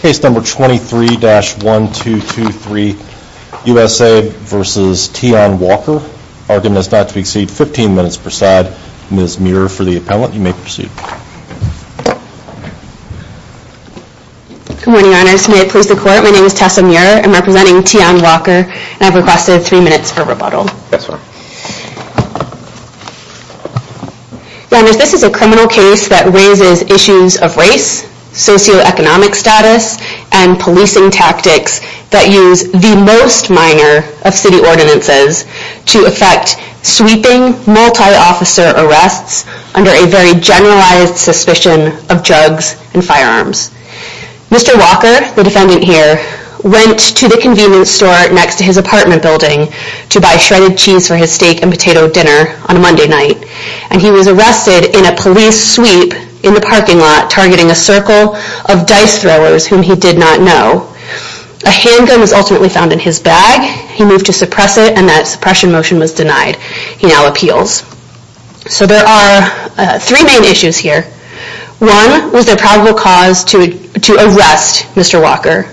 case number 23-1223 USA versus Teiun Walker. Argument is not to exceed 15 minutes per side. Ms. Muir for the appellant. You may proceed. Good morning Your Honors. May it please the Court, my name is Tessa Muir. I'm representing Teiun Walker and I've requested three minutes for rebuttal. Yes sir. Your Honors, this is a criminal case that raises issues of race, socioeconomic status, and policing tactics that use the most minor of city ordinances to effect sweeping multi-officer arrests under a very generalized suspicion of drugs and firearms. Mr. Walker, the defendant here, went to the convenience store next to his apartment building to buy shredded cheese for his steak and potato dinner on a Monday night, and he was arrested in a police sweep in the parking lot targeting a circle of dice throwers whom he did not know. A handgun was ultimately found in his bag, he moved to suppress it, and that suppression motion was denied. He now appeals. So there are three main issues here. One, was there probable cause to arrest Mr. Walker?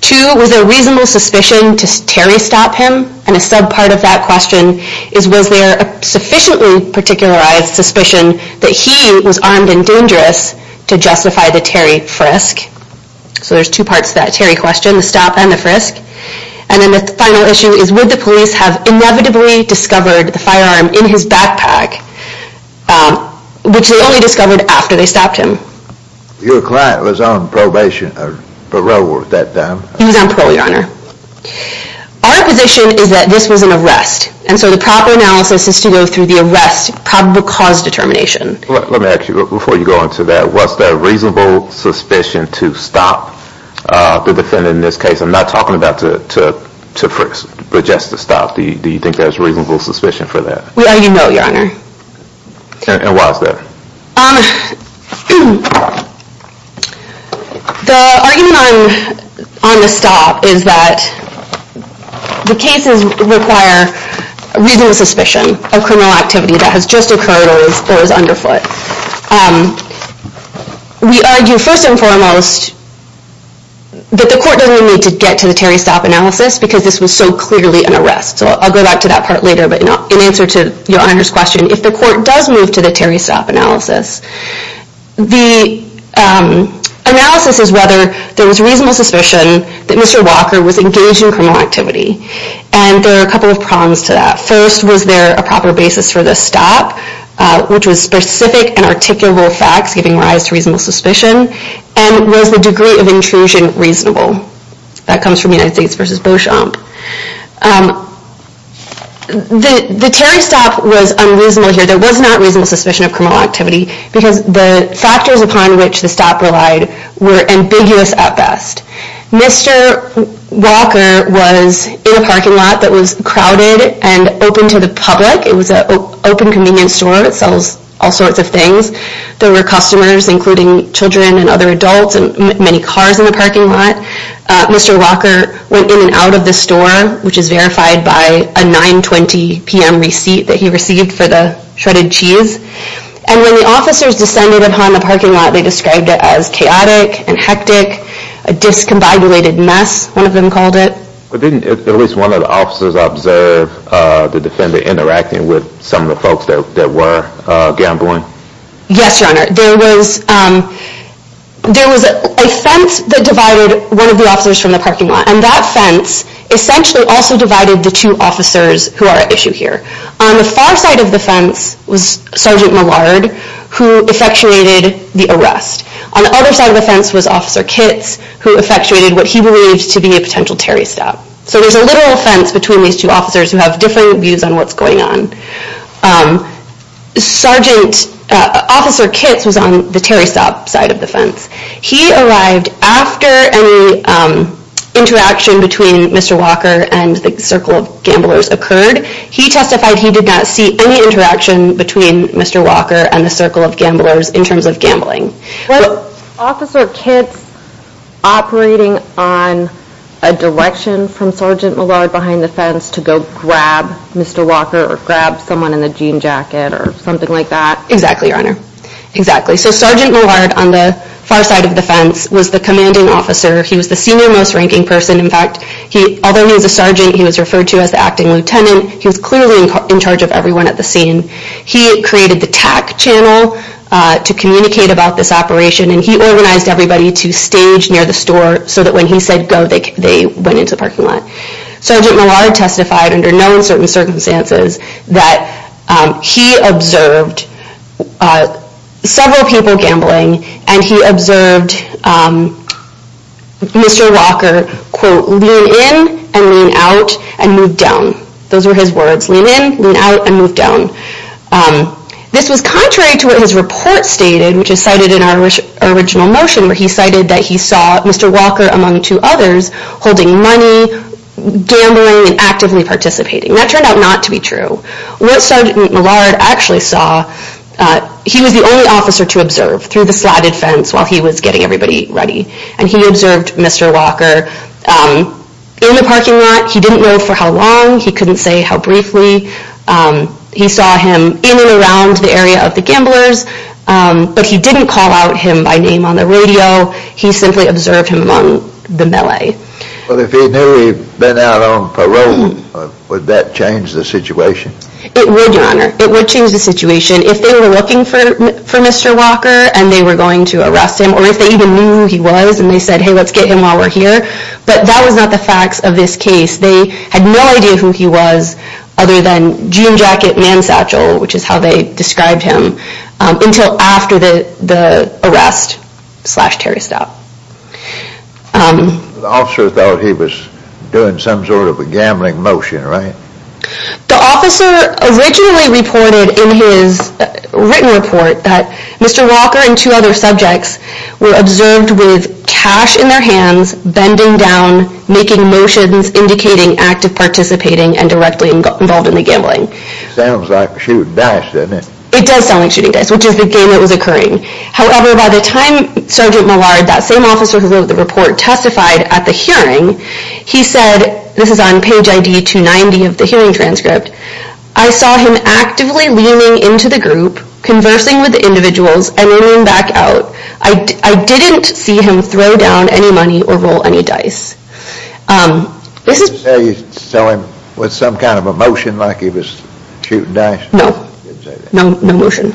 Two, was there reasonable suspicion to terry-stop him? And a sub-part of that question is, was there a sufficiently particularized suspicion that he was armed and dangerous to justify the terry frisk? So there's two parts to that terry question, the stop and the frisk. And then the final issue is, would the police have inevitably discovered the firearm in his backpack, which they only discovered after they stopped him? Your client was on probation or parole at that time? He was on parole, your honor. Our position is that this was an arrest, and so the proper analysis is to go through the arrest probable cause determination. Let me ask you, before you go into that, was there reasonable suspicion to stop the defendant in this case? I'm not talking about to frisk, but just to stop. Do you think there's reasonable suspicion for that? We argue no, your honor. And why is that? The argument on the stop is that the cases require reasonable suspicion of criminal activity that has just occurred or is underfoot. We argue first and foremost that the court doesn't need to get to the terry stop analysis because this was so clearly an arrest. So I'll go back to that part later, but in answer to your honor's question, if the court does move to the terry stop analysis, the analysis is whether there was reasonable suspicion that Mr. Walker was engaged in criminal activity. And there are a couple of prongs to that. First, was there a proper basis for the stop, which was specific and articulable facts giving rise to reasonable suspicion? And was the degree of intrusion reasonable? That comes from United States v. Beauchamp. The terry stop was unreasonable here. There was not reasonable suspicion of criminal activity because the factors upon which the stop relied were ambiguous at best. Mr. Walker was in a parking lot that was crowded and open to the public. It was an open convenience store. It sells all sorts of things. There were customers, including children and other adults and many cars in the parking lot. Mr. Walker went in and out of the store, which is verified by a 920 p.m. receipt that he received for the shredded cheese. And when the officers descended upon the parking lot, they described it as chaotic and hectic, a discombobulated mess, one of them called it. But didn't at least one of the officers observe the defender interacting with some of the folks that were gambling? Yes, Your Honor. There was a fence that divided one of the officers from the parking lot. And that fence essentially also divided the two officers who are at issue here. On the far side of the fence was Sergeant Millard, who effectuated the arrest. On the other side of the fence was Officer Kitts, who effectuated what he believed to be a potential terry stop. So there's a literal fence between these two officers who have different views on what's going on. Officer Kitts was on the terry stop side of the fence. He arrived after any interaction between Mr. Walker and the circle of gamblers occurred. He testified he did not see any interaction between Mr. Walker and the circle of gamblers in terms of gambling. Was Officer Kitts operating on a direction from Sergeant Millard behind the fence to go grab Mr. Walker or grab someone in a jean jacket or something like that? Exactly, Your Honor. Exactly. So Sergeant Millard on the far side of the fence was the commanding officer. He was the senior most ranking person. In fact, although he was a sergeant, he was referred to as the acting lieutenant. He was clearly in charge of everyone at the scene. He created the tack channel to communicate about this operation. And he organized everybody to stage near the store so that when he said go, they went into the parking lot. Sergeant Millard testified under known certain circumstances that he observed several people gambling and he observed Mr. Walker, quote, lean in and lean out and move down. Those were his words. Lean in, lean out, and move down. This was contrary to what his report stated, which is cited in our original motion, where he cited that he saw Mr. Walker, among two others, holding money, gambling, and actively participating. That turned out not to be true. What Sergeant Millard actually saw, he was the only officer to observe through the slatted fence while he was getting everybody ready. And he observed Mr. Walker in the parking lot. He didn't know for how long. He couldn't say how briefly. He saw him in the area of the gamblers, but he didn't call out him by name on the radio. He simply observed him among the melee. But if he knew he'd been out on parole, would that change the situation? It would, Your Honor. It would change the situation. If they were looking for Mr. Walker and they were going to arrest him, or if they even knew who he was and they said, hey, let's get him while we're here. But that was not the facts of this case. They had no idea who he was other than jean jacket, man's satchel, which is how they described him, until after the arrest slash Terry Stout. The officer thought he was doing some sort of a gambling motion, right? The officer originally reported in his written report that Mr. Walker and two other subjects were observed with cash in their hands, bending down, making motions, indicating active participating, and directly involved in the gambling. Sounds like shooting dice, doesn't it? It does sound like shooting dice, which is the game that was occurring. However, by the time Sergeant Millard, that same officer who wrote the report, testified at the hearing, he said, this is on page ID 290 of the hearing transcript, I saw him actively leaning into the group, conversing with the individuals, and leaning back out. I didn't see him throw down any money or roll any dice. Did you say you saw him with some kind of a motion like he was shooting dice? No, no motion.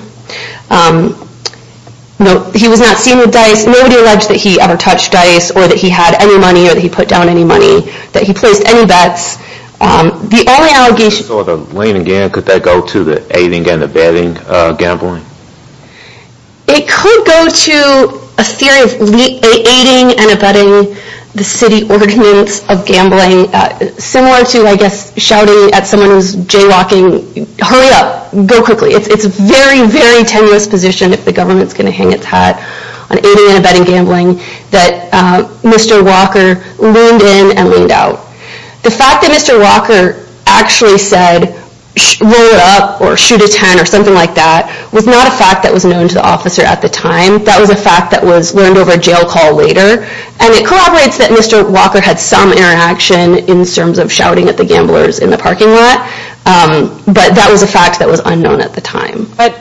He was not seen with dice, nobody alleged that he ever touched dice, or that he had any money, or that he put down any money, that he placed any bets. The only allegation... If he was leaning again, could that go to the aiding and abetting gambling? It could go to a theory of aiding and abetting the city ordinance of gambling, similar to, I guess, shouting at someone who's jaywalking, hurry up, go quickly. It's a very, very tenuous position if the government's going to hang its hat on aiding and abetting gambling, that Mr. Walker leaned in and leaned out. The fact that Mr. Walker actually said, roll it up, or shoot a ten, or something like that, was not a fact that was known to the officer at the time. That was a fact that was learned over a jail call later. And it corroborates that Mr. Walker had some interaction in terms of shouting at the gamblers in the parking lot, but that was a fact that was unknown at the time. But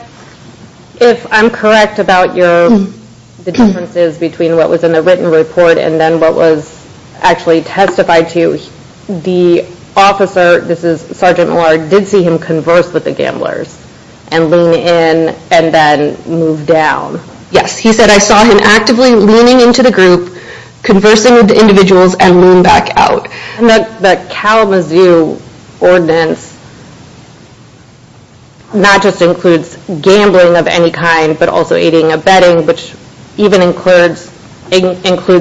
if I'm correct about the differences between what was in the written report and then what was actually testified to, the officer, this is Sergeant Moore, did see him converse with the gamblers and lean in and then move down. Yes, he said, I saw him actively leaning into the group, conversing with the individuals, and lean back out. And that Kalamazoo ordinance not just includes gambling of any kind, but also aiding and abetting, which even includes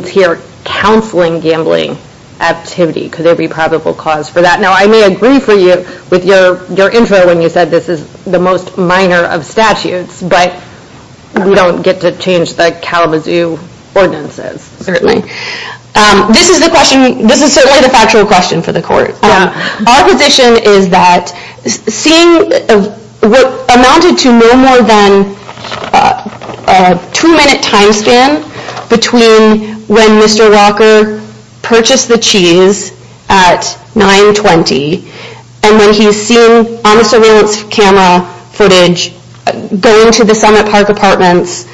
here counseling gambling activity. Could there be probable cause for that? Now, I may agree for you with your intro when you said this is the most minor of statutes, but we don't get to change the Kalamazoo ordinances. Certainly. This is the question, this is certainly the factual question for the court. Our position is that seeing what amounted to no more than a two-minute time span between when Mr. Walker purchased the cheese at 920 and when he's seen honest surveillance camera footage going to the Summit Park apartments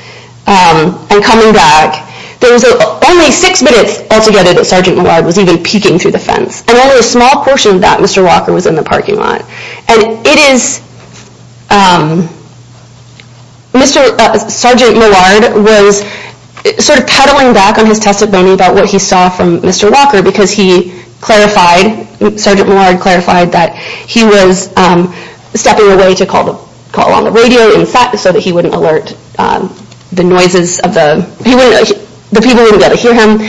and coming back, there was only six minutes altogether that Sergeant Moore was even peeking through the fence. And only a small portion of that Mr. Walker was in the parking lot. And it is, Sergeant Millard was sort of peddling back on his testimony about what he saw from Mr. Walker because he clarified, Sergeant Millard clarified that he was stepping away to call on the radio so that he wouldn't alert the noises, the people wouldn't be able to hear him.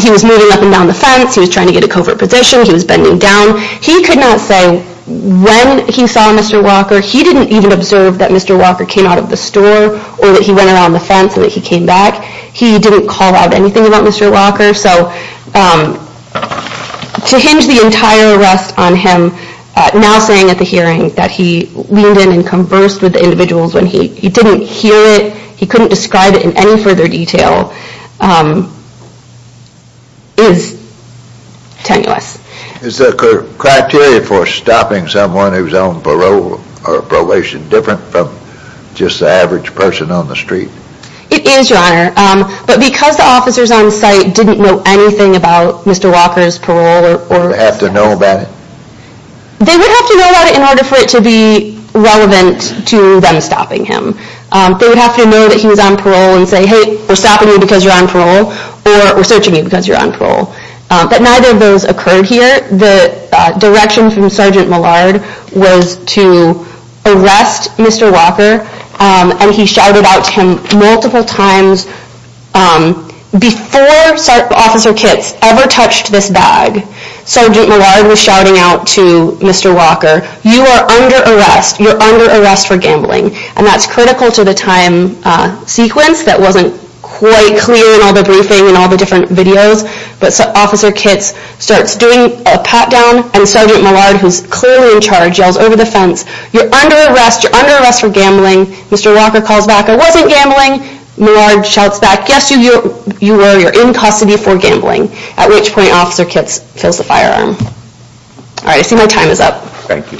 He was moving up and down the fence, he was trying to get a covert position, he was bending down. He could not say when he saw Mr. Walker. He didn't even observe that Mr. Walker came out of the store or that he went around the fence and that he came back. He didn't call out anything about Mr. Walker. So to hinge the entire arrest on him now saying at the hearing that he leaned in and conversed with the individuals when he didn't hear it, he couldn't describe it in any further detail, is tenuous. Is the criteria for stopping someone who's on parole or probation different from just the average person on the street? It is, Your Honor. But because the officers on site didn't know anything about Mr. Walker's parole Would they have to know about it? They would have to know about it in order for it to be relevant to them stopping him. They would have to know that he was on parole and say, hey, we're stopping you because you're on parole or we're searching you because you're on parole. But neither of those occurred here. The direction from Sergeant Millard was to arrest Mr. Walker and he shouted out to him multiple times Before Officer Kitts ever touched this bag, Sergeant Millard was shouting out to Mr. Walker You are under arrest. You're under arrest for gambling. And that's critical to the time sequence that wasn't quite clear in all the briefing and all the different videos. But Officer Kitts starts doing a pat down and Sergeant Millard, who's clearly in charge, yells over the fence You're under arrest. You're under arrest for gambling. Mr. Walker calls back, I wasn't gambling. Millard shouts back, yes you were. You're in custody for gambling. At which point Officer Kitts fills the firearm. Alright, I see my time is up. Thank you.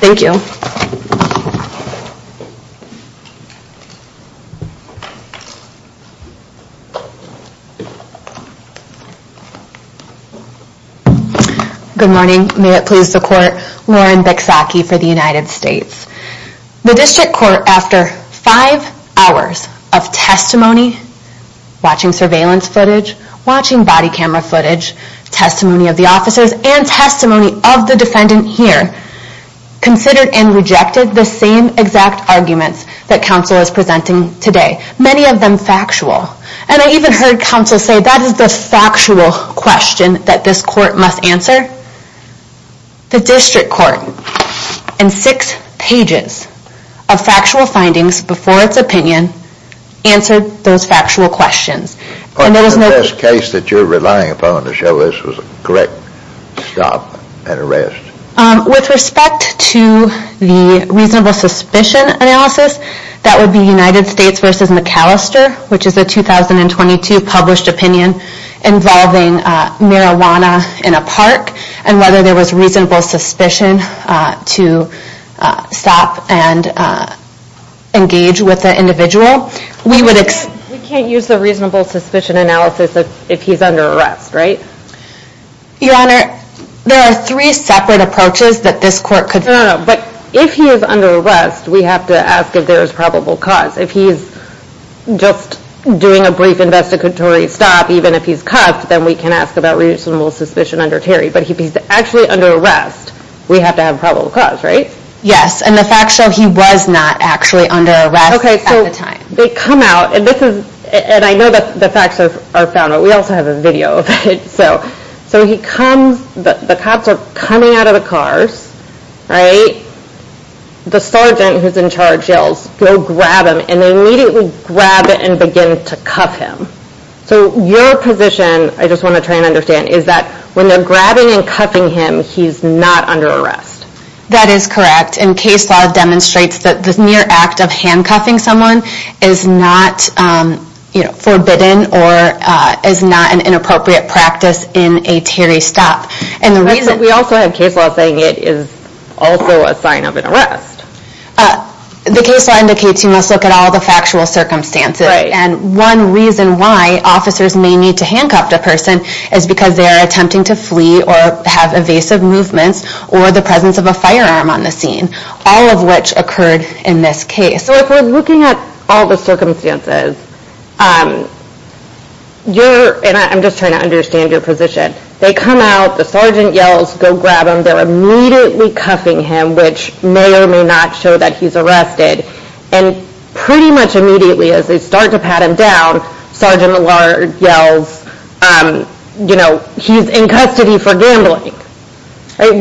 Good morning. May it please the court. Lauren Biczacki for the United States. The District Court, after 5 hours of testimony, watching surveillance footage, watching body camera footage, testimony of the officers, and testimony of the defendant here, considered and rejected the same exact arguments that counsel is presenting today. Many of them factual. And I even heard counsel say that is the factual question that this court must answer. The District Court, in 6 pages of factual findings before its opinion, answered those factual questions. The best case that you're relying upon to show this was a correct stop and arrest. With respect to the reasonable suspicion analysis, that would be United States v. McAllister, which is a 2022 published opinion involving marijuana in a park. And whether there was reasonable suspicion to stop and engage with the individual. We can't use the reasonable suspicion analysis if he's under arrest, right? Your Honor, there are 3 separate approaches that this court could... But if he's under arrest, we have to ask if there's probable cause. If he's just doing a brief investigatory stop, even if he's cuffed, then we can ask about reasonable suspicion under Terry. But if he's actually under arrest, we have to have probable cause, right? Yes, and the facts show he was not actually under arrest at the time. They come out, and I know the facts are found, but we also have a video of it. So the cops are coming out of the cars, right? The sergeant who's in charge yells, go grab him. And they immediately grab him and begin to cuff him. So your position, I just want to try and understand, is that when they're grabbing and cuffing him, he's not under arrest? That is correct, and case law demonstrates that the mere act of handcuffing someone is not forbidden or is not an inappropriate practice in a Terry stop. But we also have case law saying it is also a sign of an arrest. The case law indicates you must look at all the factual circumstances. And one reason why officers may need to handcuff a person is because they are attempting to flee or have evasive movements or the presence of a firearm on the scene, all of which occurred in this case. So if we're looking at all the circumstances, and I'm just trying to understand your position, they come out, the sergeant yells, go grab him, they're immediately cuffing him, which may or may not show that he's arrested. And pretty much immediately as they start to pat him down, Sergeant Millard yells, he's in custody for gambling. Wouldn't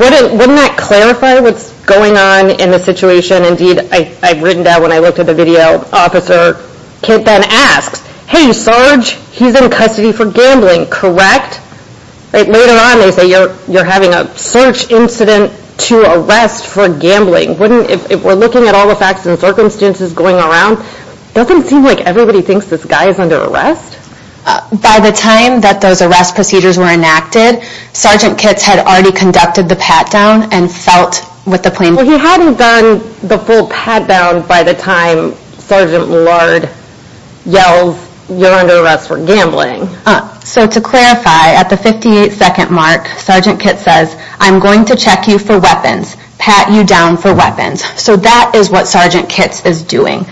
that clarify what's going on in the situation? And indeed, I've written down when I looked at the video, Officer Kitt then asks, hey serge, he's in custody for gambling, correct? Later on they say you're having a search incident to arrest for gambling. If we're looking at all the facts and circumstances going around, doesn't it seem like everybody thinks this guy is under arrest? By the time that those arrest procedures were enacted, Sergeant Kitt had already conducted the pat-down and felt with the plaintiff. Well he hadn't done the full pat-down by the time Sergeant Millard yells, you're under arrest for gambling. So to clarify, at the 58 second mark, Sergeant Kitt says, I'm going to check you for weapons, pat you down for weapons. So that is what Sergeant Kitt is doing.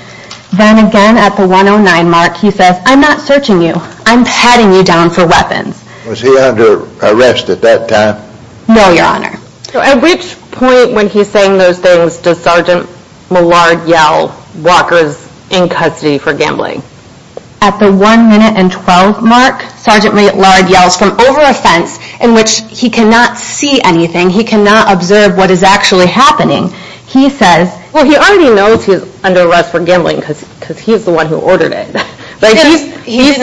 Then again at the 109 mark, he says, I'm not searching you, I'm patting you down for weapons. Was he under arrest at that time? No, your honor. At which point when he's saying those things, does Sergeant Millard yell, Walker's in custody for gambling? At the 1 minute and 12 mark, Sergeant Millard yells from over a fence in which he cannot see anything, he cannot observe what is actually happening. He says, Well he already knows he's under arrest for gambling because he's the one who ordered it. He's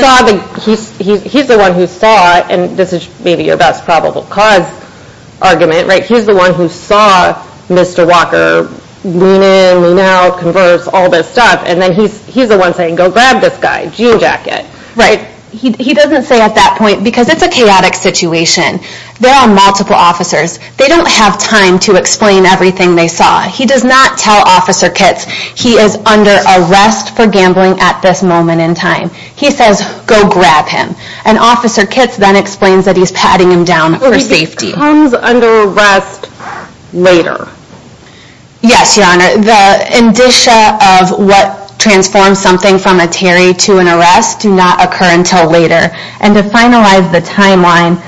the one who saw it, and this is maybe your best probable cause argument, he's the one who saw Mr. Walker lean in, lean out, converse, all this stuff, and then he's the one saying, go grab this guy, jean jacket. Right. He doesn't say at that point, because it's a chaotic situation. There are multiple officers. They don't have time to explain everything they saw. He does not tell Officer Kitts, he is under arrest for gambling at this moment in time. He says, go grab him. And Officer Kitts then explains that he's patting him down for safety. He comes under arrest later. Yes, Your Honor. The indicia of what transforms something from a Terry to an arrest do not occur until later. And to finalize the timeline,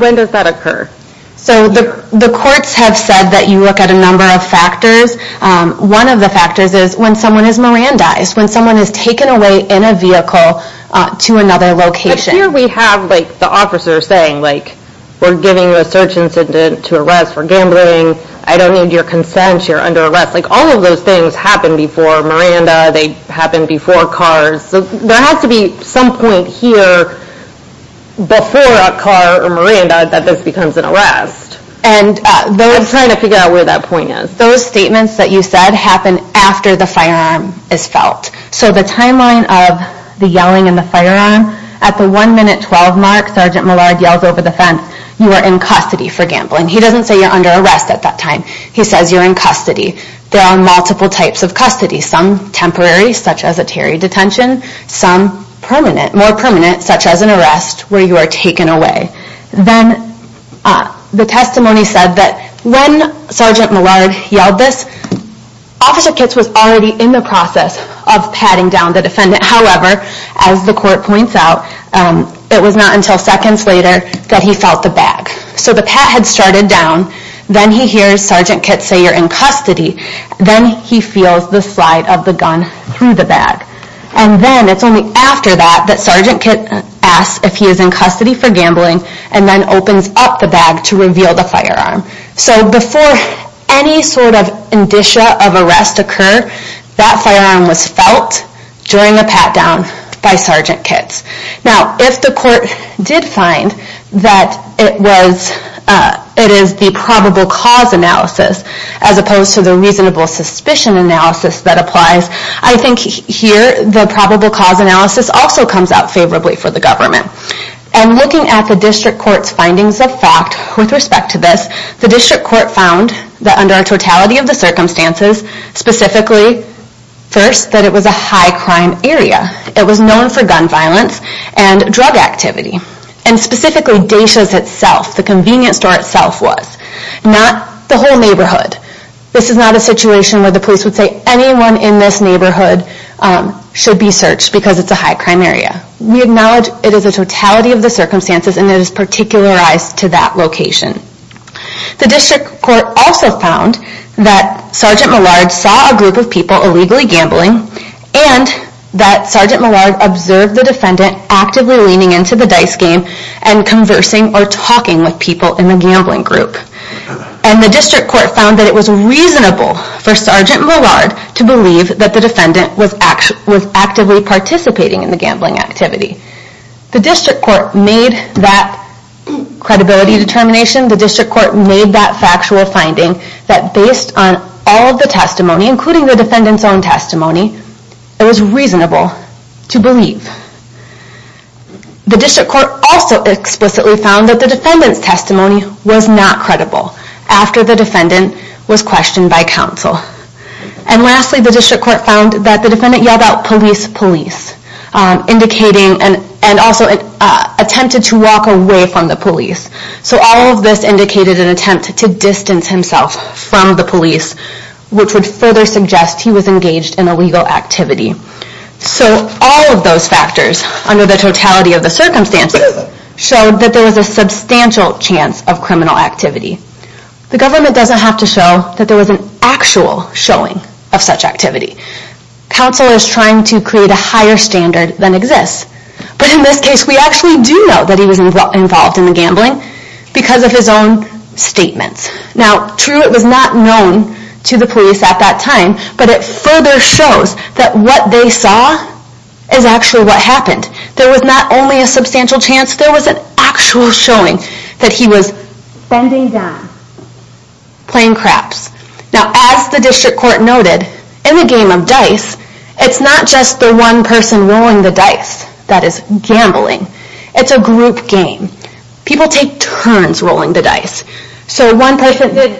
When does that occur? So the courts have said that you look at a number of factors. One of the factors is when someone is Mirandized, when someone is taken away in a vehicle to another location. Here we have the officer saying, we're giving you a search incident to arrest for gambling. I don't need your consent. You're under arrest. All of those things happen before Miranda. They happen before cars. There has to be some point here before a car or Miranda that this becomes an arrest. I'm trying to figure out where that point is. Those statements that you said happen after the firearm is felt. So the timeline of the yelling and the firearm, at the 1 minute 12 mark, Sergeant Millard yells over the fence, you are in custody for gambling. He doesn't say you're under arrest at that time. He says you're in custody. There are multiple types of custody. Some temporary, such as a Terry detention. Some permanent, more permanent, such as an arrest where you are taken away. Then the testimony said that when Sergeant Millard yelled this, Officer Kitts was already in the process of patting down the defendant. However, as the court points out, it was not until seconds later that he felt the bag. So the pat had started down. Then he hears Sergeant Kitts say you're in custody. Then he feels the slide of the gun through the bag. And then, it's only after that, that Sergeant Kitts asks if he is in custody for gambling and then opens up the bag to reveal the firearm. So before any sort of indicia of arrest occur, that firearm was felt during the pat down by Sergeant Kitts. Now, if the court did find that it is the probable cause analysis as opposed to the reasonable suspicion analysis that applies, I think here the probable cause analysis also comes out favorably for the government. And looking at the District Court's findings of fact with respect to this, the District Court found that under a totality of the circumstances, specifically, first, that it was a high crime area. It was known for gun violence and drug activity. And specifically, Daysha's itself, the convenience store itself was. Not the whole neighborhood. This is not a situation where the police would say anyone in this neighborhood should be searched because it's a high crime area. We acknowledge it is a totality of the circumstances and it is particularized to that location. The District Court also found that Sgt. Millard saw a group of people illegally gambling and that Sgt. Millard observed the defendant actively leaning into the dice game and conversing or talking with people in the gambling group. And the District Court found that it was reasonable for Sgt. Millard to believe that the defendant was actively participating in the gambling activity. The District Court made that credibility determination, the District Court made that factual finding, that based on all of the testimony, including the defendant's own testimony, it was reasonable to believe. The District Court also explicitly found that the defendant's testimony was not credible after the defendant was questioned by counsel. And lastly, the District Court found that the defendant yelled out, police, police, and also attempted to walk away from the police. So all of this indicated an attempt to distance himself from the police, which would further suggest he was engaged in illegal activity. So all of those factors, under the totality of the circumstances, showed that there was a substantial chance of criminal activity. The government doesn't have to show that there was an actual showing of such activity. Counsel is trying to create a higher standard than exists. But in this case, we actually do know that he was involved in the gambling because of his own statements. Now, true, it was not known to the police at that time, but it further shows that what they saw is actually what happened. There was not only a substantial chance, there was an actual showing that he was bending down, playing craps. Now, as the District Court noted, in the game of dice, it's not just the one person rolling the dice that is gambling. It's a group game. People take turns rolling the dice. So one person...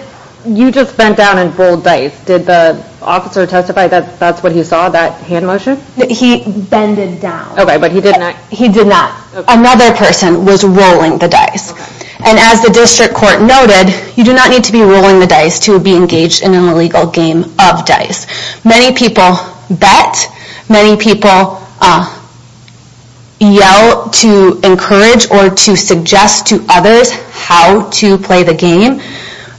You just bent down and rolled dice. Did the officer testify that that's what he saw, that hand motion? He bended down. Okay, but he did not... He did not. Another person was rolling the dice. And as the District Court noted, you do not need to be rolling the dice to be engaged in an illegal game of dice. Many people bet. Many people yell to encourage or to suggest to others how to play the game.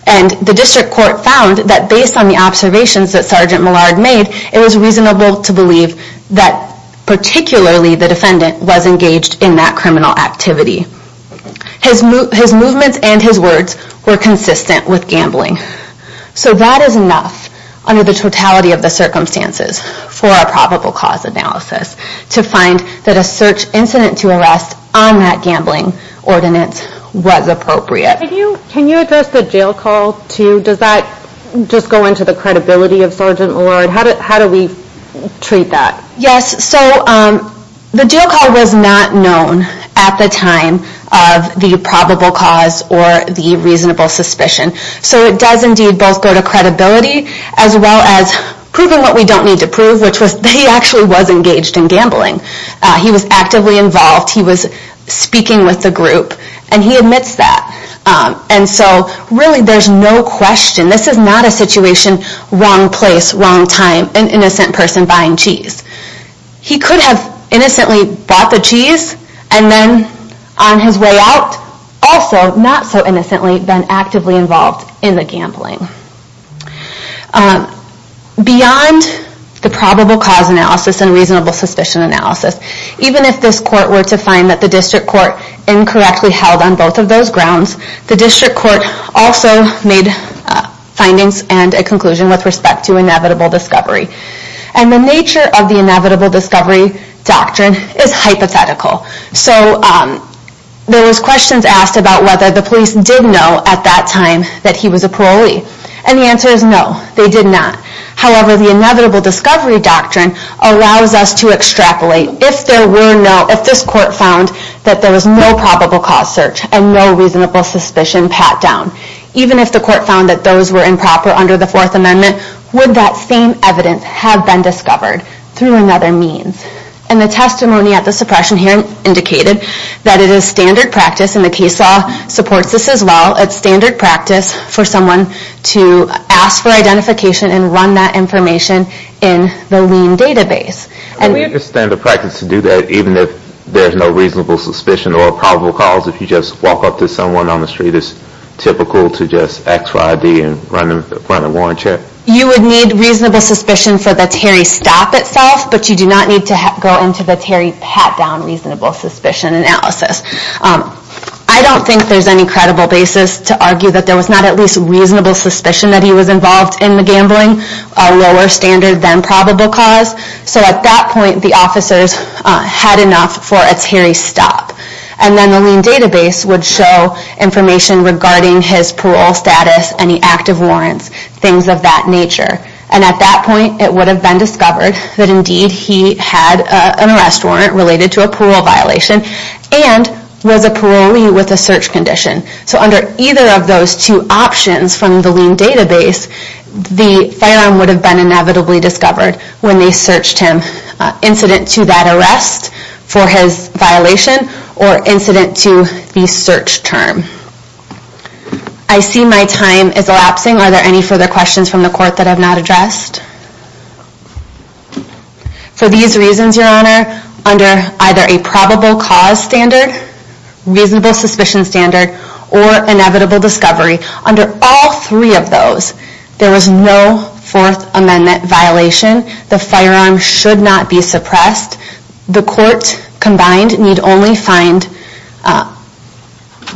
And the District Court found that based on the observations that Sgt. Millard made, it was reasonable to believe that particularly the defendant was engaged in that criminal activity. His movements and his words were consistent with gambling. So that is enough under the totality of the circumstances for a probable cause analysis to find that a search incident to arrest on that gambling ordinance was appropriate. Can you address the jail call, too? Does that just go into the credibility of Sgt. Millard? How do we treat that? Yes, so the jail call was not known at the time of the probable cause or the reasonable suspicion. So it does indeed both go to credibility as well as proving what we don't need to prove, which was that he actually was engaged in gambling. He was actively involved. He was speaking with the group. And he admits that. And so really there's no question. This is not a situation, wrong place, wrong time, of an innocent person buying cheese. He could have innocently bought the cheese and then on his way out, also not so innocently, been actively involved in the gambling. Beyond the probable cause analysis and reasonable suspicion analysis, even if this court were to find that the district court incorrectly held on both of those grounds, the district court also made findings and a conclusion with respect to inevitable discovery. And the nature of the inevitable discovery doctrine is hypothetical. So there was questions asked about whether the police did know at that time that he was a parolee. And the answer is no, they did not. However, the inevitable discovery doctrine allows us to extrapolate if there were no, if this court found that there was no probable cause search and no reasonable suspicion pat down. Even if the court found that those were improper under the Fourth Amendment, would that same evidence have been discovered through another means? And the testimony at the suppression hearing indicated that it is standard practice, and the case law supports this as well, it's standard practice for someone to ask for identification and run that information in the lien database. And we understand the practice to do that even if there's no reasonable suspicion or probable cause if you just walk up to someone on the street is typical to just ask for ID and run a warrant check? You would need reasonable suspicion for the Terry stop itself, but you do not need to go into the Terry pat down reasonable suspicion analysis. I don't think there's any credible basis to argue that there was not at least reasonable suspicion that he was involved in the gambling, a lower standard than probable cause. So at that point, the officers had enough for a Terry stop. And then the lien database would show information regarding his parole status and the active warrants, things of that nature. And at that point, it would have been discovered that indeed he had an arrest warrant related to a parole violation and was a parolee with a search condition. So under either of those two options from the lien database, the firearm would have been inevitably discovered when they searched him. Incident to that arrest for his violation or incident to the search term. I see my time is elapsing. Are there any further questions from the court that I've not addressed? For these reasons, Your Honor, under either a probable cause standard, reasonable suspicion standard, or inevitable discovery, under all three of those, there was no fourth amendment violation. The firearm should not be suppressed. The court combined need only find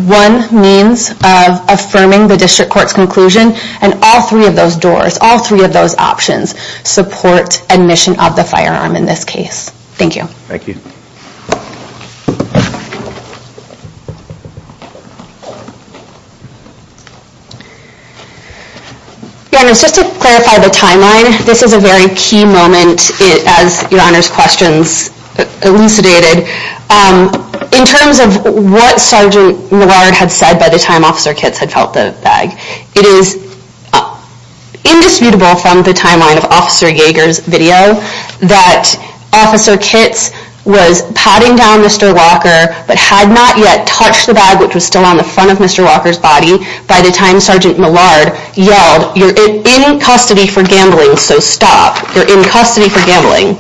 one means of affirming the district court's conclusion and all three of those doors, all three of those options support admission of the firearm in this case. Thank you. Thank you. Your Honor, just to clarify the timeline, this is a very key moment as Your Honor's questions elucidated. In terms of what Sgt. Millard had said by the time Officer Kitts had felt the bag, it is indisputable from the timeline of Officer Yeager's video that Officer Kitts was patting down Mr. Walker but had not yet touched the bag which was still on the front of Mr. Walker's body by the time Sgt. Millard yelled, you're in custody for gambling, so stop. You're in custody for gambling.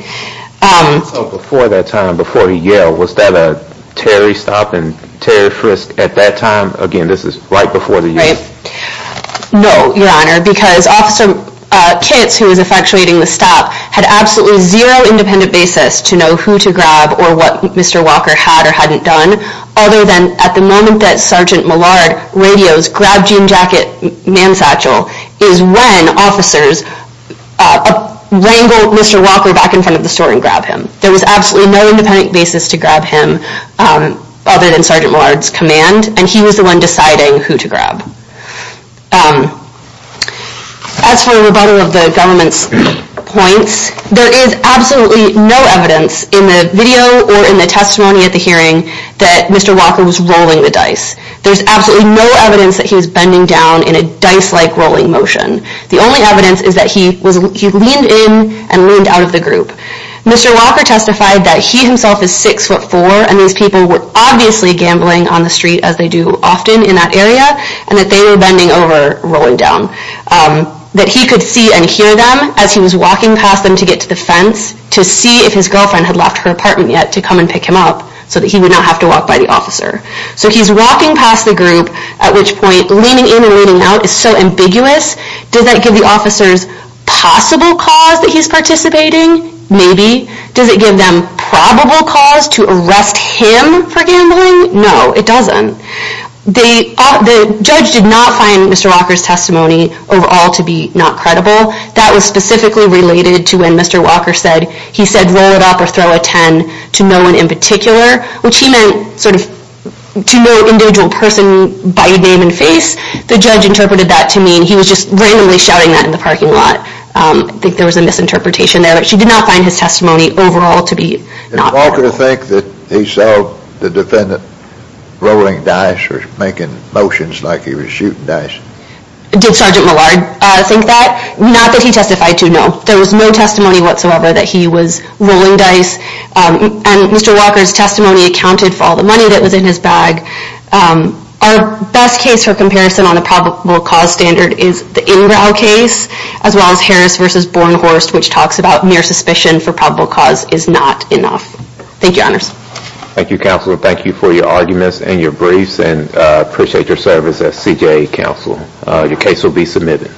Before that time, before he yelled, was that a Terry stop and Terry frisk at that time? Again, this is right before the yell. No, Your Honor, because Officer Kitts, who was effectuating the stop, had absolutely zero independent basis to know who to grab or what Mr. Walker had or hadn't done, other than at the moment that Sgt. Millard radios, grab jean jacket, man satchel, is when officers wrangle Mr. Walker back in front of the store and grab him. There was absolutely no independent basis to grab him, other than Sgt. Millard's command, and he was the one deciding who to grab. As for a rebuttal of the government's points, there is absolutely no evidence in the video or in the testimony at the hearing that Mr. Walker was rolling the dice. There's absolutely no evidence that he was bending down in a dice-like rolling motion. The only evidence is that he leaned in and leaned out of the group. Mr. Walker testified that he himself is 6'4", and these people were obviously gambling on the street, as they do often in that area, and that they were bending over, rolling down. That he could see and hear them as he was walking past them to get to the fence, to see if his girlfriend had left her apartment yet to come and pick him up, so that he would not have to walk by the officer. So he's walking past the group, at which point, leaning in and leaning out is so ambiguous. Does that give the officers possible cause that he's participating? Maybe. Does it give them probable cause to arrest him for gambling? No, it doesn't. The judge did not find Mr. Walker's testimony overall to be not credible. That was specifically related to when Mr. Walker said, he said, roll it up or throw a 10 to no one in particular, which he meant to no individual person by name and face. The judge interpreted that to mean he was just randomly shouting that in the parking lot. I think there was a misinterpretation there, but she did not find his testimony overall to be not credible. Did Walker think that he saw the defendant rolling dice or making motions like he was shooting dice? Did Sergeant Millard think that? Not that he testified to, no. There was no testimony whatsoever that he was rolling dice, and Mr. Walker's testimony accounted for all the money that was in his bag. Our best case for comparison on the probable cause standard is the Ingrao case, as well as Harris v. Bornhorst, which talks about mere suspicion for probable cause is not enough. Thank you, Honors. Thank you, Counselor. Thank you for your arguments and your briefs, and I appreciate your service as CJA Counselor. Your case will be submitted.